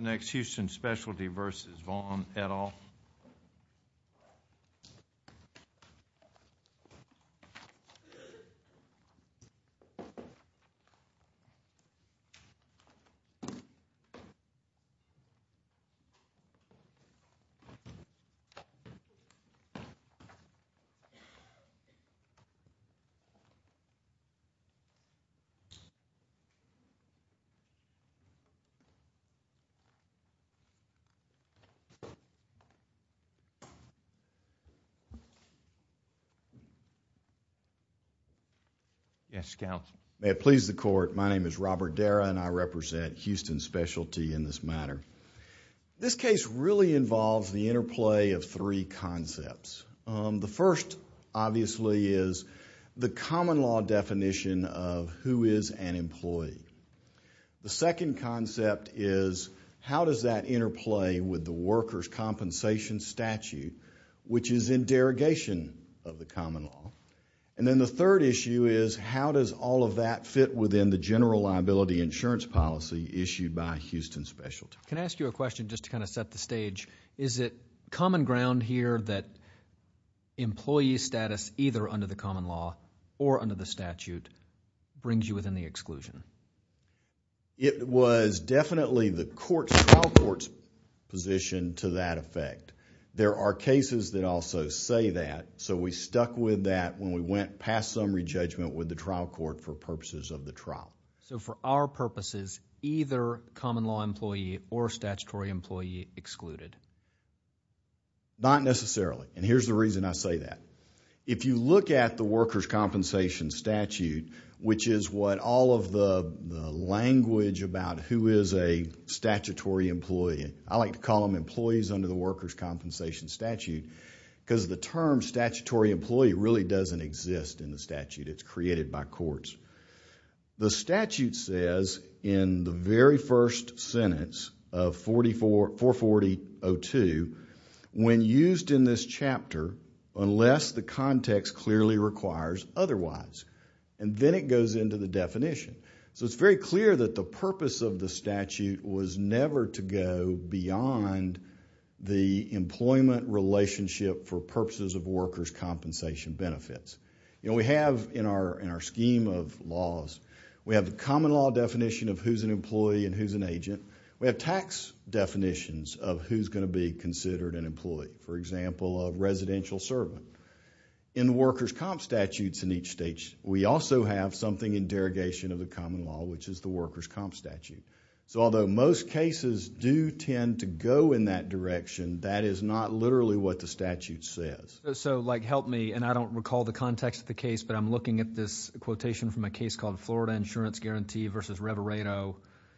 Next, Houston Specialty v. Vaughn, et al. May it please the Court, my name is Robert Darra and I represent Houston Specialty in this matter. This case really involves the interplay of three concepts. The first, obviously, is the common law definition of who is an employee. The second concept is how does that interplay with the workers' compensation statute, which is in derogation of the common law. And then the third issue is how does all of that fit within the general liability insurance policy issued by Houston Specialty. Can I ask you a question just to kind of set the stage? Is it common ground here that employee status, either under the common law or under the statute, brings you within the exclusion? It was definitely the trial court's position to that effect. There are cases that also say that, so we stuck with that when we went past summary judgment with the trial court for purposes of the trial. So for our purposes, either common law employee or statutory employee excluded? Not necessarily, and here's the reason I say that. If you look at the workers' compensation statute, which is what all of the language about who is a statutory employee, I like to call them employees under the workers' compensation statute because the term statutory employee really doesn't exist in the statute. It's created by courts. The statute says in the very first sentence of 440.02, when used in this chapter, unless the context clearly requires otherwise, and then it goes into the definition. So it's very clear that the purpose of the statute was never to go beyond the employment relationship for purposes of workers' compensation benefits. We have in our scheme of laws, we have the common law definition of who's an employee and who's an agent. We have tax definitions of who's going to be considered an employee. For example, a residential servant. In the workers' comp statutes in each state, we also have something in derogation of the common law, which is the workers' comp statute. So although most cases do tend to go in that direction, that is not literally what the statute says. So like, help me, and I don't recall the context of the case, but I'm looking at this quotation from a case called Florida Insurance Guarantee versus Reveredo.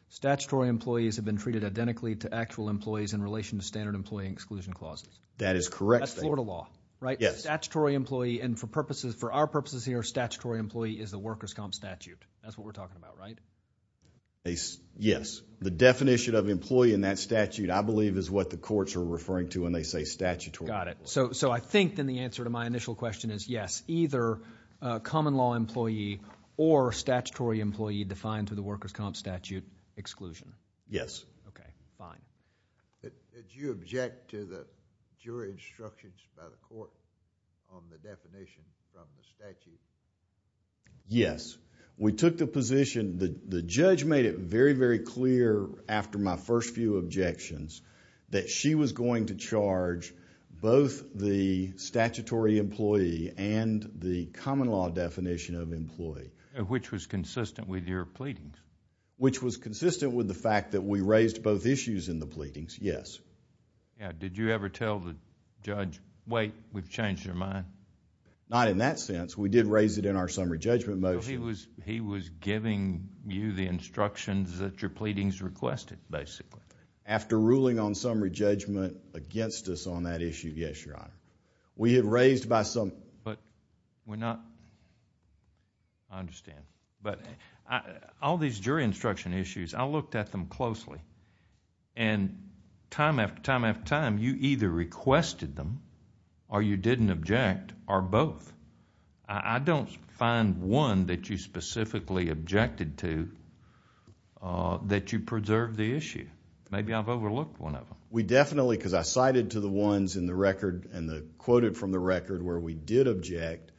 Statutory employees have been treated identically to actual employees in relation to standard employee exclusion clauses. That is correct. That's Florida law, right? Yes. Statutory employee, and for our purposes here, statutory employee is the workers' comp statute. That's what we're talking about, right? Yes. The definition of employee in that statute, I believe, is what the courts are referring to when they say statutory. Got it. So I think then the answer to my initial question is yes, either a common law employee or statutory employee defined through the workers' comp statute exclusion. Yes. Okay, fine. Did you object to the jury instructions by the court on the definition from the statute? Yes. We took the position, the judge made it very, very clear after my first few objections that she was going to charge both the statutory employee and the common law definition of employee. Which was consistent with your pleadings. Which was consistent with the fact that we raised both issues in the pleadings, yes. Did you ever tell the judge, wait, we've changed your mind? Not in that sense. We did raise it in our summary judgment motion. He was giving you the instructions that your pleadings requested, basically. After ruling on summary judgment against us on that issue, yes, Your Honor. We had raised by some... But we're not... I understand. But all these jury instruction issues, I looked at them closely. And time after time after time, you either requested them or you didn't object or both. I don't find one that you specifically objected to that you preserved the issue. Maybe I've overlooked one of them. We definitely, because I cited to the ones in the record and quoted from the record where we did object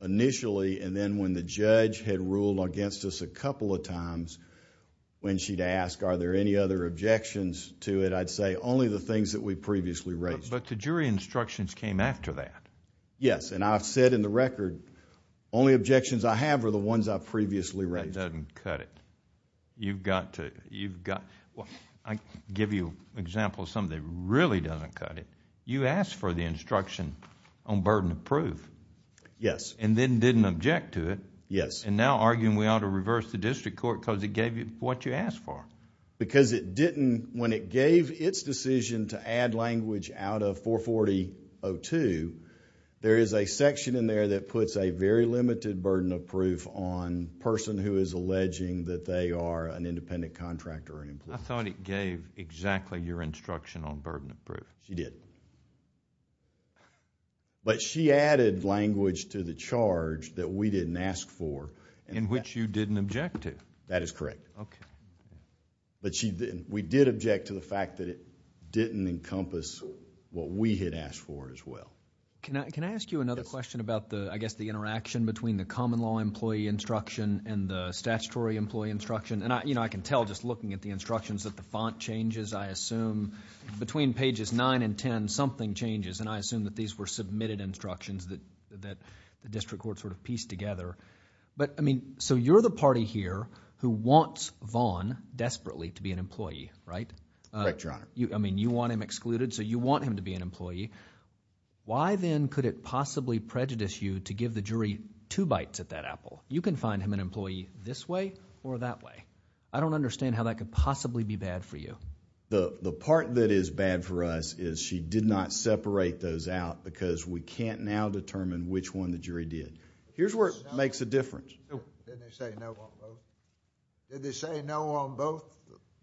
initially and then when the judge had ruled against us a couple of times when she'd ask, are there any other objections to it, I'd say only the things that we previously raised. But the jury instructions came after that. Yes. And I've said in the record, only objections I have are the ones I've previously raised. That doesn't cut it. You've got to... I'll give you an example of something that really doesn't cut it. You asked for the instruction on burden of proof and then didn't object to it and now arguing we ought to reverse the district court because it gave you what you asked for. Because it didn't... when it gave its decision to add language out of 440-02, there is a section in there that puts a very limited burden of proof on person who is alleging that they are an independent contractor or employee. I thought it gave exactly your instruction on burden of proof. She did. But she added language to the charge that we didn't ask for. In which you didn't object to. That is correct. Okay. But we did object to the fact that it didn't encompass what we had asked for as well. Can I ask you another question about the interaction between the common law employee instruction and the statutory employee instruction? I can tell just looking at the instructions that the font changes, I assume. Between pages 9 and 10, something changes and I assume that these were submitted instructions that the district court pieced together. So you're the party here who wants Vaughn desperately to be an employee, right? Correct, Your Honor. Why then could it possibly prejudice you to give the jury two bites at that apple? You can find him an employee this way or that way. I don't understand how that could possibly be bad for you. The part that is bad for us is she did not separate those out because we can't now determine which one the jury did. Here's where it makes a difference. Didn't they say no on both?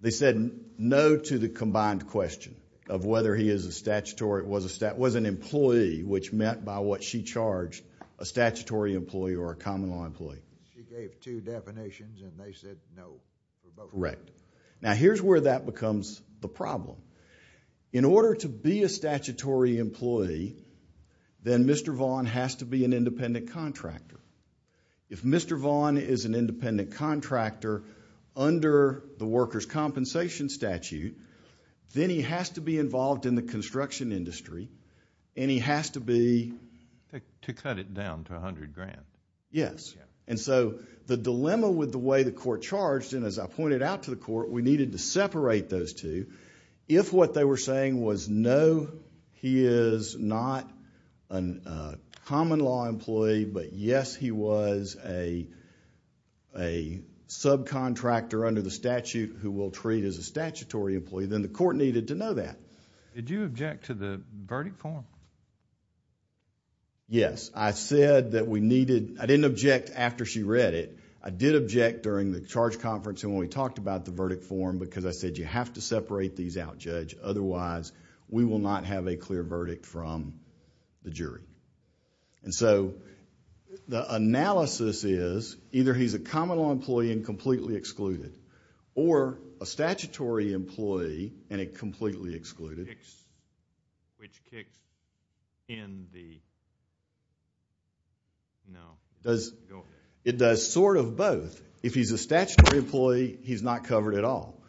They said no to the combined question of whether he is a statutory, was an employee, which meant by what she charged, a statutory employee or a common law employee. She gave two definitions and they said no. Correct. Now here's where that becomes the problem. In order to be a statutory employee, then Mr. Vaughn has to be an independent contractor. If Mr. Vaughn is an independent contractor under the worker's compensation statute, then he has to be involved in the construction industry and he has to be- To cut it down to a hundred grand. Yes. And so the dilemma with the way the court charged, and as I pointed out to the court, we needed to separate those two. If what they were saying was no, he is not a common law employee, but yes, he was a subcontractor under the statute who we'll treat as a statutory employee, then the court needed to know that. Did you object to the verdict form? Yes. I said that we needed... I didn't object after she read it. I did object during the charge conference and when we talked about the verdict form because I said you have to separate these out, Judge, otherwise we will not have a clear verdict from the jury. And so the analysis is either he's a common law employee and completely excluded or a statutory employee and a completely excluded. Which kicks in the... No. It does sort of both. If he's a statutory employee, he's not covered at all.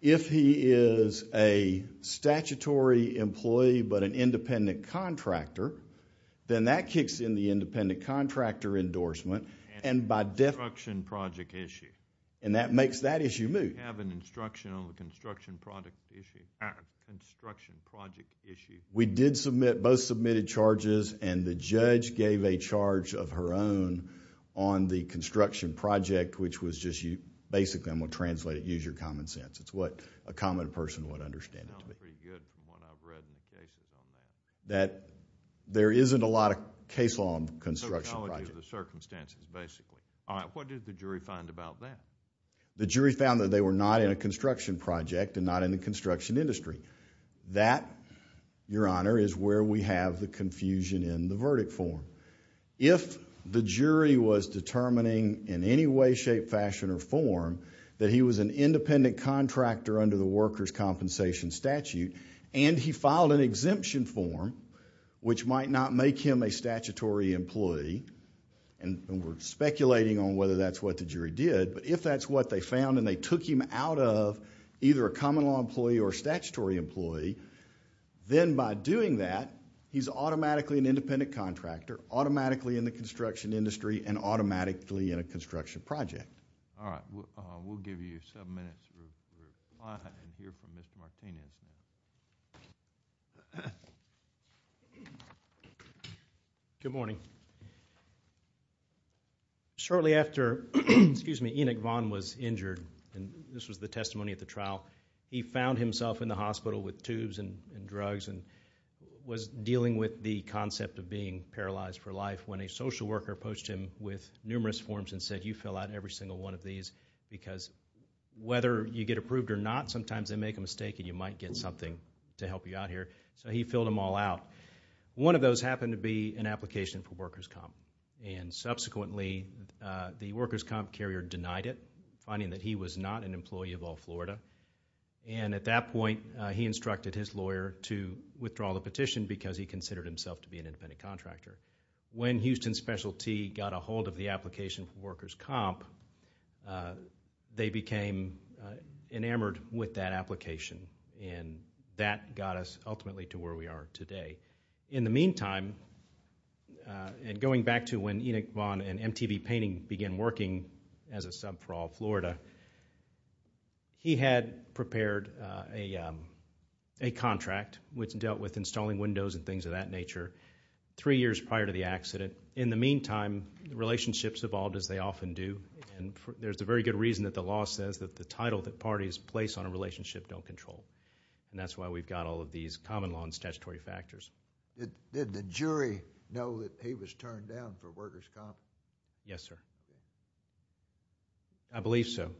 If he is a statutory employee, but an independent contractor, then that kicks in the independent contractor endorsement and by definition- Construction project issue. And that makes that issue move. You have an instruction on the construction project issue. We did submit, both submitted charges and the judge gave a charge of her own on the verdict, which was just you... Basically, I'm going to translate it, use your common sense. It's what a common person would understand. It sounds pretty good from what I've read in the cases on that. There isn't a lot of case law on construction projects. So it's the circumstances, basically. All right. What did the jury find about that? The jury found that they were not in a construction project and not in the construction industry. That, Your Honor, is where we have the confusion in the verdict form. If the jury was determining in any way, shape, fashion, or form that he was an independent contractor under the workers' compensation statute and he filed an exemption form, which might not make him a statutory employee, and we're speculating on whether that's what the jury did, but if that's what they found and they took him out of either a common law employee or a statutory employee, then by doing that, he's automatically an independent contractor, automatically in the construction industry, and automatically in a construction project. All right. We'll give you seven minutes to reply and hear from Mr. Martinez. Good morning. Shortly after Enoch Vaughn was injured, and this was the testimony at the trial, he found himself in the hospital with tubes and drugs and was dealing with the concept of being paralyzed for life when a social worker poached him with numerous forms and said, you fill out every single one of these because whether you get approved or not, sometimes they make a mistake and you might get something to help you out here, so he filled them all out. One of those happened to be an application for workers' comp, and subsequently, the workers' comp carrier denied it, finding that he was not an employee of All-Florida. And at that point, he instructed his lawyer to withdraw the petition because he considered himself to be an independent contractor. When Houston Specialty got a hold of the application for workers' comp, they became enamored with that application and that got us ultimately to where we are today. In the meantime, and going back to when Enoch Vaughn and MTV Painting began working as a We had prepared a contract which dealt with installing windows and things of that nature three years prior to the accident. In the meantime, relationships evolved as they often do, and there's a very good reason that the law says that the title that parties place on a relationship don't control, and that's why we've got all of these common law and statutory factors. Did the jury know that he was turned down for workers' comp? Yes, sir. I believe so.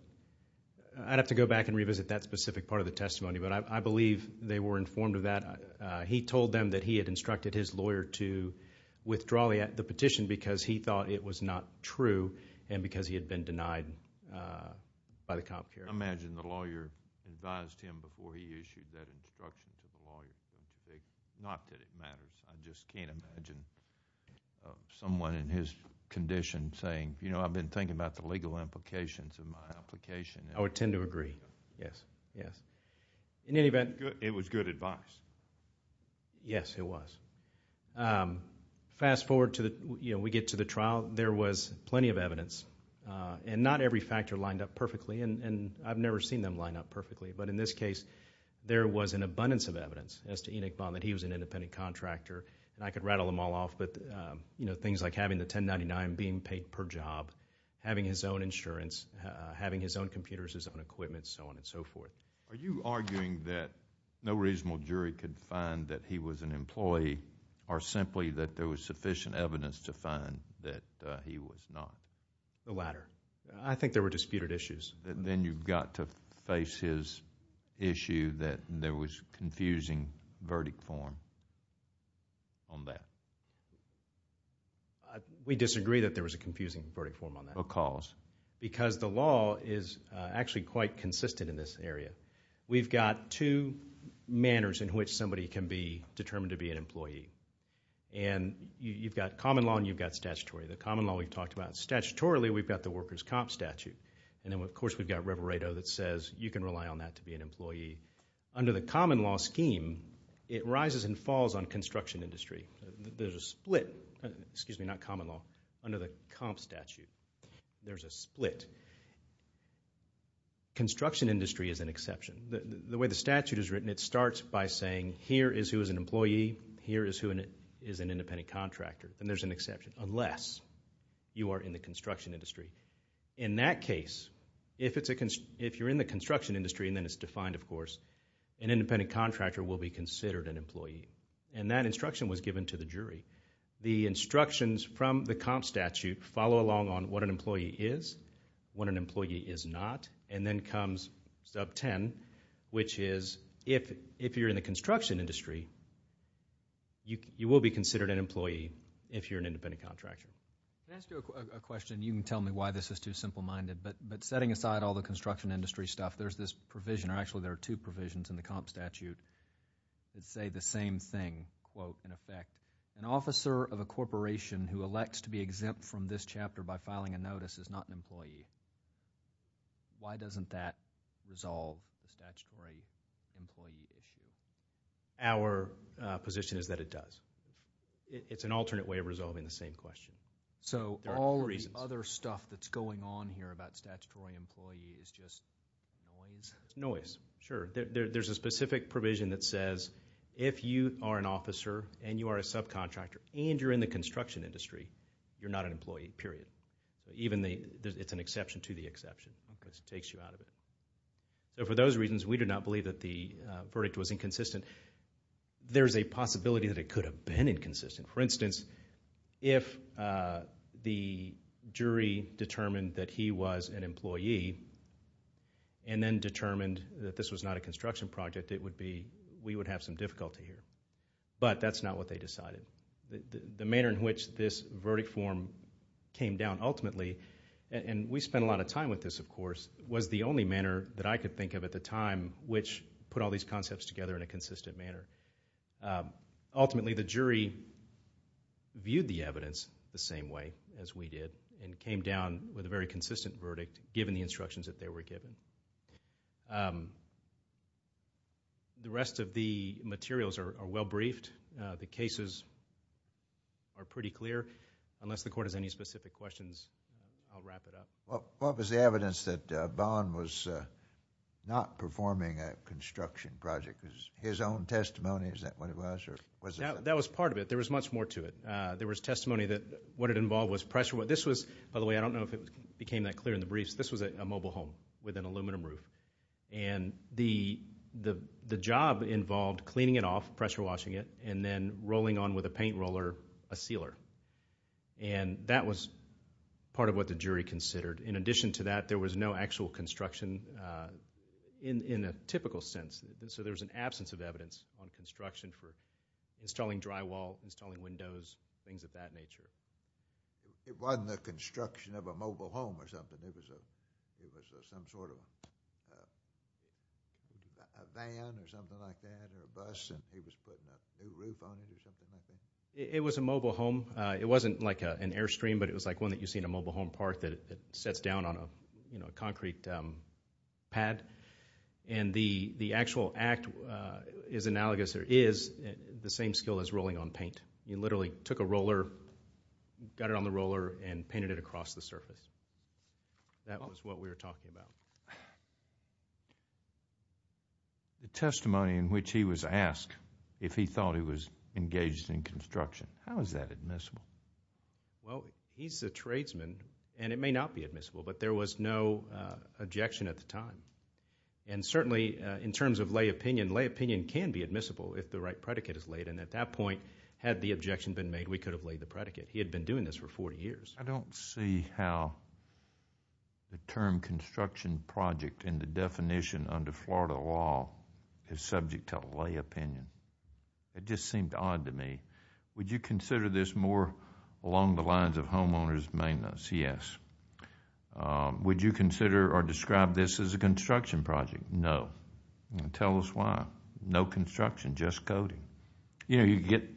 I'd have to go back and revisit that specific part of the testimony, but I believe they were informed of that. He told them that he had instructed his lawyer to withdraw the petition because he thought it was not true and because he had been denied by the comp carrier. I imagine the lawyer advised him before he issued that instruction to the lawyer to say, not that it matters, I just can't imagine someone in his condition saying, you know, I've been thinking about the legal implications of my application. I would tend to agree. Yes. Yes. In any event... It was good advice. Yes, it was. Fast forward to the... we get to the trial. There was plenty of evidence, and not every factor lined up perfectly, and I've never seen them line up perfectly, but in this case, there was an abundance of evidence as to Enoch Bond that he was an independent contractor, and I could rattle them all off, but things like having the $10.99 being paid per job, having his own insurance, having his own computers, his own equipment, so on and so forth. Are you arguing that no reasonable jury could find that he was an employee or simply that there was sufficient evidence to find that he was not? The latter. I think there were disputed issues. Then you've got to face his issue that there was confusing verdict form on that. We disagree that there was a confusing verdict form on that. Because? Because the law is actually quite consistent in this area. We've got two manners in which somebody can be determined to be an employee, and you've got common law and you've got statutory. The common law we've talked about statutorily, we've got the worker's comp statute, and then of course, we've got reverato that says you can rely on that to be an employee. Under the common law scheme, it rises and falls on construction industry. There's a split, excuse me, not common law, under the comp statute, there's a split. Construction industry is an exception. The way the statute is written, it starts by saying here is who is an employee, here is who is an independent contractor, and there's an exception, unless you are in the construction industry. In that case, if you're in the construction industry, and then it's defined of course, an independent contractor will be considered an employee. That instruction was given to the jury. The instructions from the comp statute follow along on what an employee is, what an employee is not, and then comes sub 10, which is if you're in the construction industry, you will be considered an employee if you're an independent contractor. Can I ask you a question? You can tell me why this is too simple minded, but setting aside all the construction industry stuff, there's this provision, or actually there are two provisions in the comp statute that say the same thing, quote, in effect, an officer of a corporation who elects to be exempt from this chapter by filing a notice is not an employee. Why doesn't that resolve the statutory employee issue? Our position is that it does. It's an alternate way of resolving the same question. So all of the other stuff that's going on here about statutory employee is just noise? It's noise, sure. There's a specific provision that says if you are an officer, and you are a subcontractor, and you're in the construction industry, you're not an employee, period. It's an exception to the exception, because it takes you out of it. For those reasons, we do not believe that the verdict was inconsistent. There's a possibility that it could have been inconsistent. For instance, if the jury determined that he was an employee, and then determined that this was not a construction project, it would be, we would have some difficulty here. But that's not what they decided. The manner in which this verdict form came down ultimately, and we spent a lot of time with this, of course, was the only manner that I could think of at the time which put all these concepts together in a consistent manner. Ultimately, the jury viewed the evidence the same way as we did, and came down with a very consistent verdict, given the instructions that they were given. The rest of the materials are well briefed. The cases are pretty clear. Unless the court has any specific questions, I'll wrap it up. What was the evidence that Bond was not performing a construction project? His own testimony, is that what it was? That was part of it. There was much more to it. There was testimony that what it involved was pressure. This was, by the way, I don't know if it became that clear in the briefs, this was a mobile home with an aluminum roof. The job involved cleaning it off, pressure washing it, and then rolling on with a paint roller a sealer. That was part of what the jury considered. In addition to that, there was no actual construction in a typical sense. There was an absence of evidence on construction for installing drywall, installing windows, things of that nature. It wasn't the construction of a mobile home or something. It was some sort of a van or something like that, or a bus, and he was putting a new roof on it or something like that? It was a mobile home. It wasn't like an Airstream, but it was like one that you see in a mobile home park that sets down on a concrete pad. The actual act is analogous, or is, the same skill as rolling on paint. You literally took a roller, got it on the roller, and painted it across the surface. That was what we were talking about. The testimony in which he was asked if he thought he was engaged in construction, how is that admissible? He's a tradesman, and it may not be admissible, but there was no objection at the time. Certainly in terms of lay opinion, lay opinion can be admissible if the right predicate is laid. At that point, had the objection been made, we could have laid the predicate. He had been doing this for 40 years. I don't see how the term construction project in the definition under Florida law is subject to lay opinion. It just seemed odd to me. Would you consider this more along the lines of homeowner's maintenance? Yes. Would you consider or describe this as a construction project? No. Tell us why. No construction, just coating. Did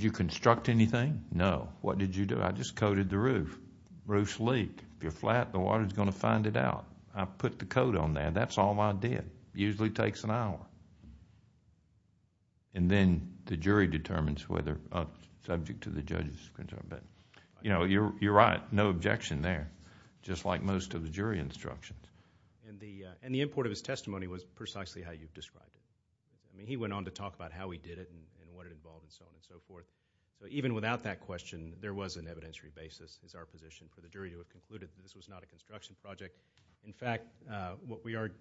you construct anything? No. What did you do? I just coated the roof. Roof's leaked. If you're flat, the water's going to find it out. I put the coat on there. That's all I did. It usually takes an hour. Then, the jury determines whether it's subject to the judge's... You're right. No objection there, just like most of the jury instructions. The import of his testimony was precisely how you've described it. He went on to talk about how he did it and what it involved and so on and so forth. Even without that question, there was an evidentiary basis, is our position, for the jury to have concluded that this was not a construction project. In fact, what we argued...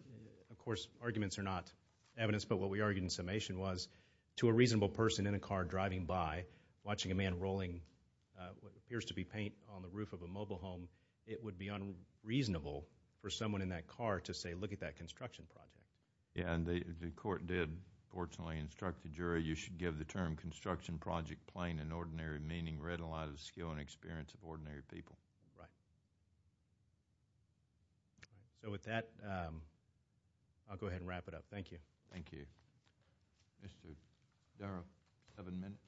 Of course, arguments are not evidence, but what we argued in summation was to a reasonable person in a car driving by, watching a man rolling what appears to be paint on the roof of a mobile home, it would be unreasonable for someone in that car to say, look at that construction project. The court did, fortunately, instruct the jury, you should give the term construction project plain and ordinary, meaning read aloud of the skill and experience of ordinary people. Right. So, with that, I'll go ahead and wrap it up. Thank you. Thank you. Mr. Darrow, seven minutes.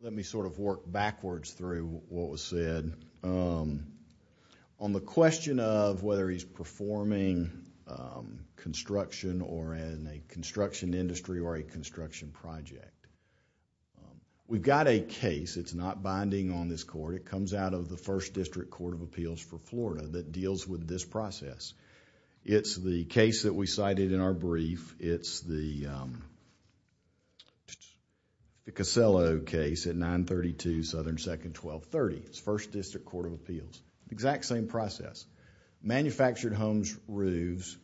Let me sort of work backwards through what was said. On the question of whether he's performing construction or in a construction industry or a construction project, we've got a case, it's not binding on this court, it comes out of the First District Court of Appeals for Florida that deals with this process. It's the case that we cited in our brief. It's the Cosello case at 932 Southern 2nd, 1230. It's First District Court of Appeals, exact same process. Manufactured homes' roofs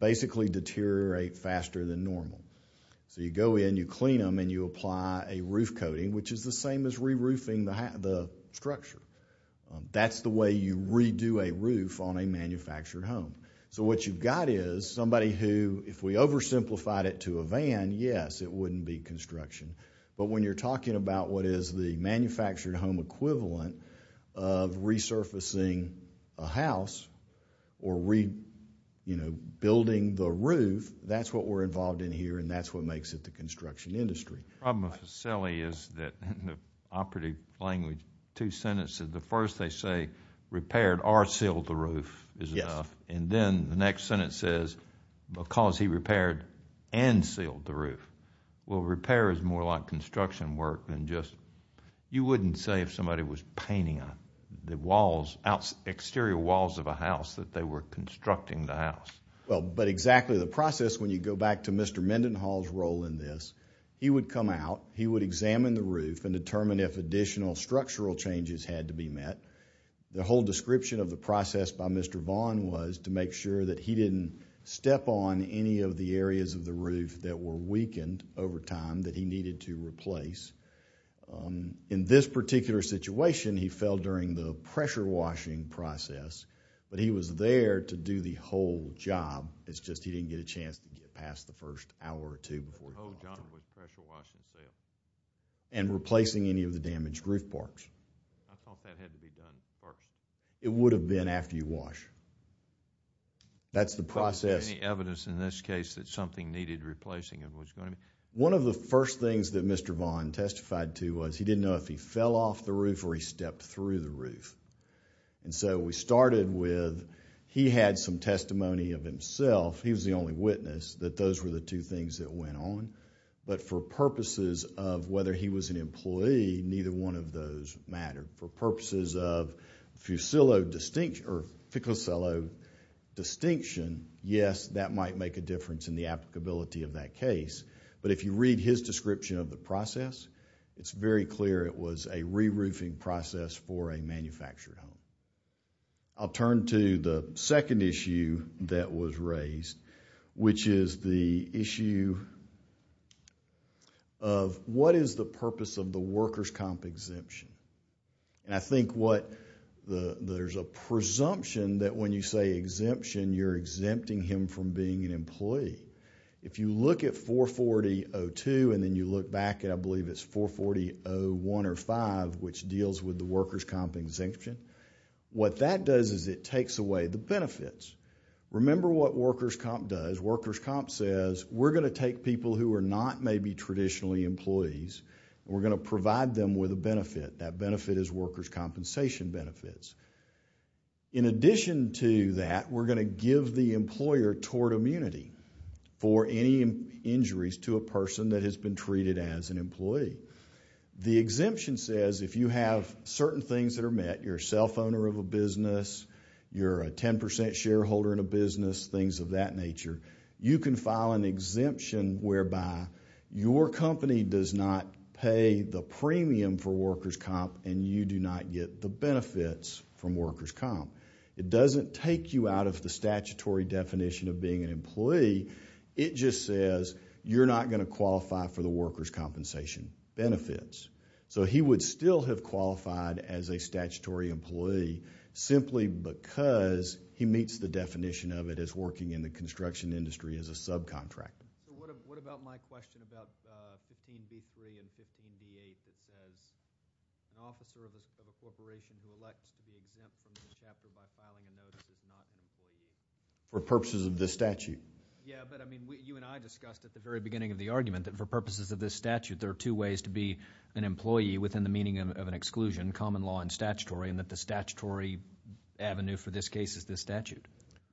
basically deteriorate faster than normal. So you go in, you clean them, and you apply a roof coating, which is the same as re-roofing the structure. That's the way you redo a roof on a manufactured home. So what you've got is somebody who, if we oversimplified it to a van, yes, it wouldn't be construction. But when you're talking about what is the manufactured home equivalent of resurfacing a house or rebuilding the roof, that's what we're involved in here, and that's what makes it the construction industry. The problem with Coselli is that in the operative language, two sentences. The first they say repaired or sealed the roof is enough, and then the next sentence says because he repaired and sealed the roof. Well, repair is more like construction work than just... you wouldn't say if somebody was painting the exterior walls of a house that they were constructing the house. But exactly the process, when you go back to Mr. Mendenhall's role in this, he would come out. He would examine the roof and determine if additional structural changes had to be met. The whole description of the process by Mr. Vaughn was to make sure that he didn't step on any of the areas of the roof that were weakened over time that he needed to replace. In this particular situation, he fell during the pressure washing process, but he was there to do the whole job. It's just he didn't get a chance to get past the first hour or two before he was done. The whole job was pressure washing and sealing. And replacing any of the damaged roof parts. I thought that had to be done first. It would have been after you wash. That's the process. Any evidence in this case that something needed replacing was going to be... One of the first things that Mr. Vaughn testified to was he didn't know if he fell off the roof or he stepped through the roof. We started with, he had some testimony of himself, he was the only witness, that those were the two things that went on. But for purposes of whether he was an employee, neither one of those mattered. For purposes of Ficcicillo distinction, yes, that might make a difference in the applicability of that case. But if you read his description of the process, it's very clear it was a re-roofing process for a manufactured home. I'll turn to the second issue that was raised, which is the issue of what is the purpose of the workers' comp exemption? I think there's a presumption that when you say exemption, you're exempting him from being an employee. If you look at 440.02 and then you look back at, I believe it's 440.01 or 5, which deals with the workers' comp exemption, what that does is it takes away the benefits. Remember what workers' comp does. Workers' comp says, we're going to take people who are not maybe traditionally employees, we're going to provide them with a benefit, that benefit is workers' compensation benefits. In addition to that, we're going to give the employer tort immunity for any injuries to a person that has been treated as an employee. The exemption says if you have certain things that are met, you're a self-owner of a business, you're a 10% shareholder in a business, things of that nature, you can file an exemption whereby your company does not pay the premium for workers' comp and you do not get the benefits from workers' comp. It doesn't take you out of the statutory definition of being an employee, it just says you're not going to qualify for the workers' compensation benefits. He would still have qualified as a statutory employee simply because he meets the definition of it as working in the construction industry as a subcontractor. What about my question about 15B3 and 15B8 that says an officer of a corporation who elects to be exempt from the chapter by filing a notice is not an employee? For purposes of this statute. Yeah, but I mean, you and I discussed at the very beginning of the argument that for purposes of this statute, there are two ways to be an employee within the meaning of an exclusion, common law and statutory, and that the statutory avenue for this case is this statute.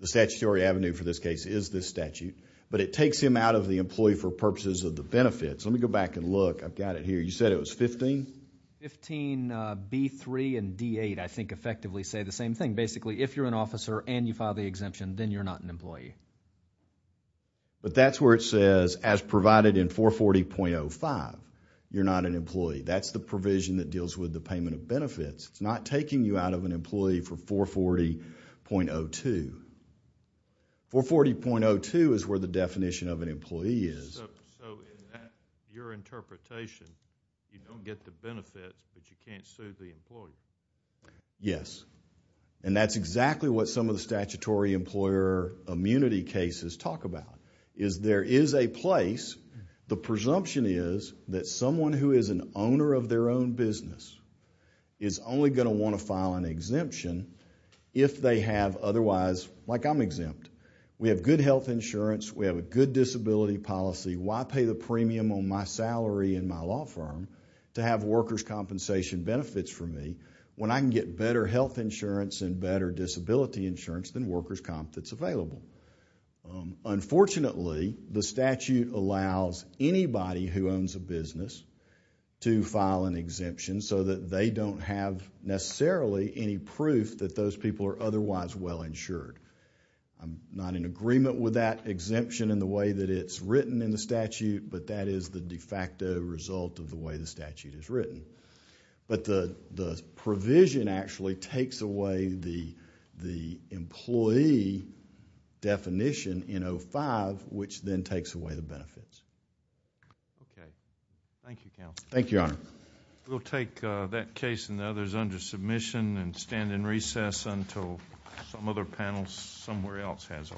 The statutory avenue for this case is this statute, but it takes him out of the employee for purposes of the benefits. Let me go back and look. I've got it here. You said it was 15? 15B3 and D8, I think, effectively say the same thing. Basically, if you're an officer and you file the exemption, then you're not an employee. But that's where it says, as provided in 440.05, you're not an employee. That's the provision that deals with the payment of benefits. It's not taking you out of an employee for 440.02. 440.02 is where the definition of an employee is. So, in that, your interpretation, you don't get the benefits, but you can't sue the employee? Yes. And that's exactly what some of the statutory employer immunity cases talk about, is there is a place. The presumption is that someone who is an owner of their own business is only going to want to file an exemption if they have otherwise, like I'm exempt. We have good health insurance. We have a good disability policy. Why pay the premium on my salary in my law firm to have workers' compensation benefits for me when I can get better health insurance and better disability insurance than workers' comp that's available? Unfortunately, the statute allows anybody who owns a business to file an exemption so that they don't have necessarily any proof that those people are otherwise well insured. I'm not in agreement with that exemption in the way that it's written in the statute, but that is the de facto result of the way the statute is written. But the provision actually takes away the employee definition in 05, which then takes away the benefits. Okay. Thank you, Counsel. Thank you, Your Honor. We'll take that case and the others under submission and stand in recess until some other panel somewhere else has a reply.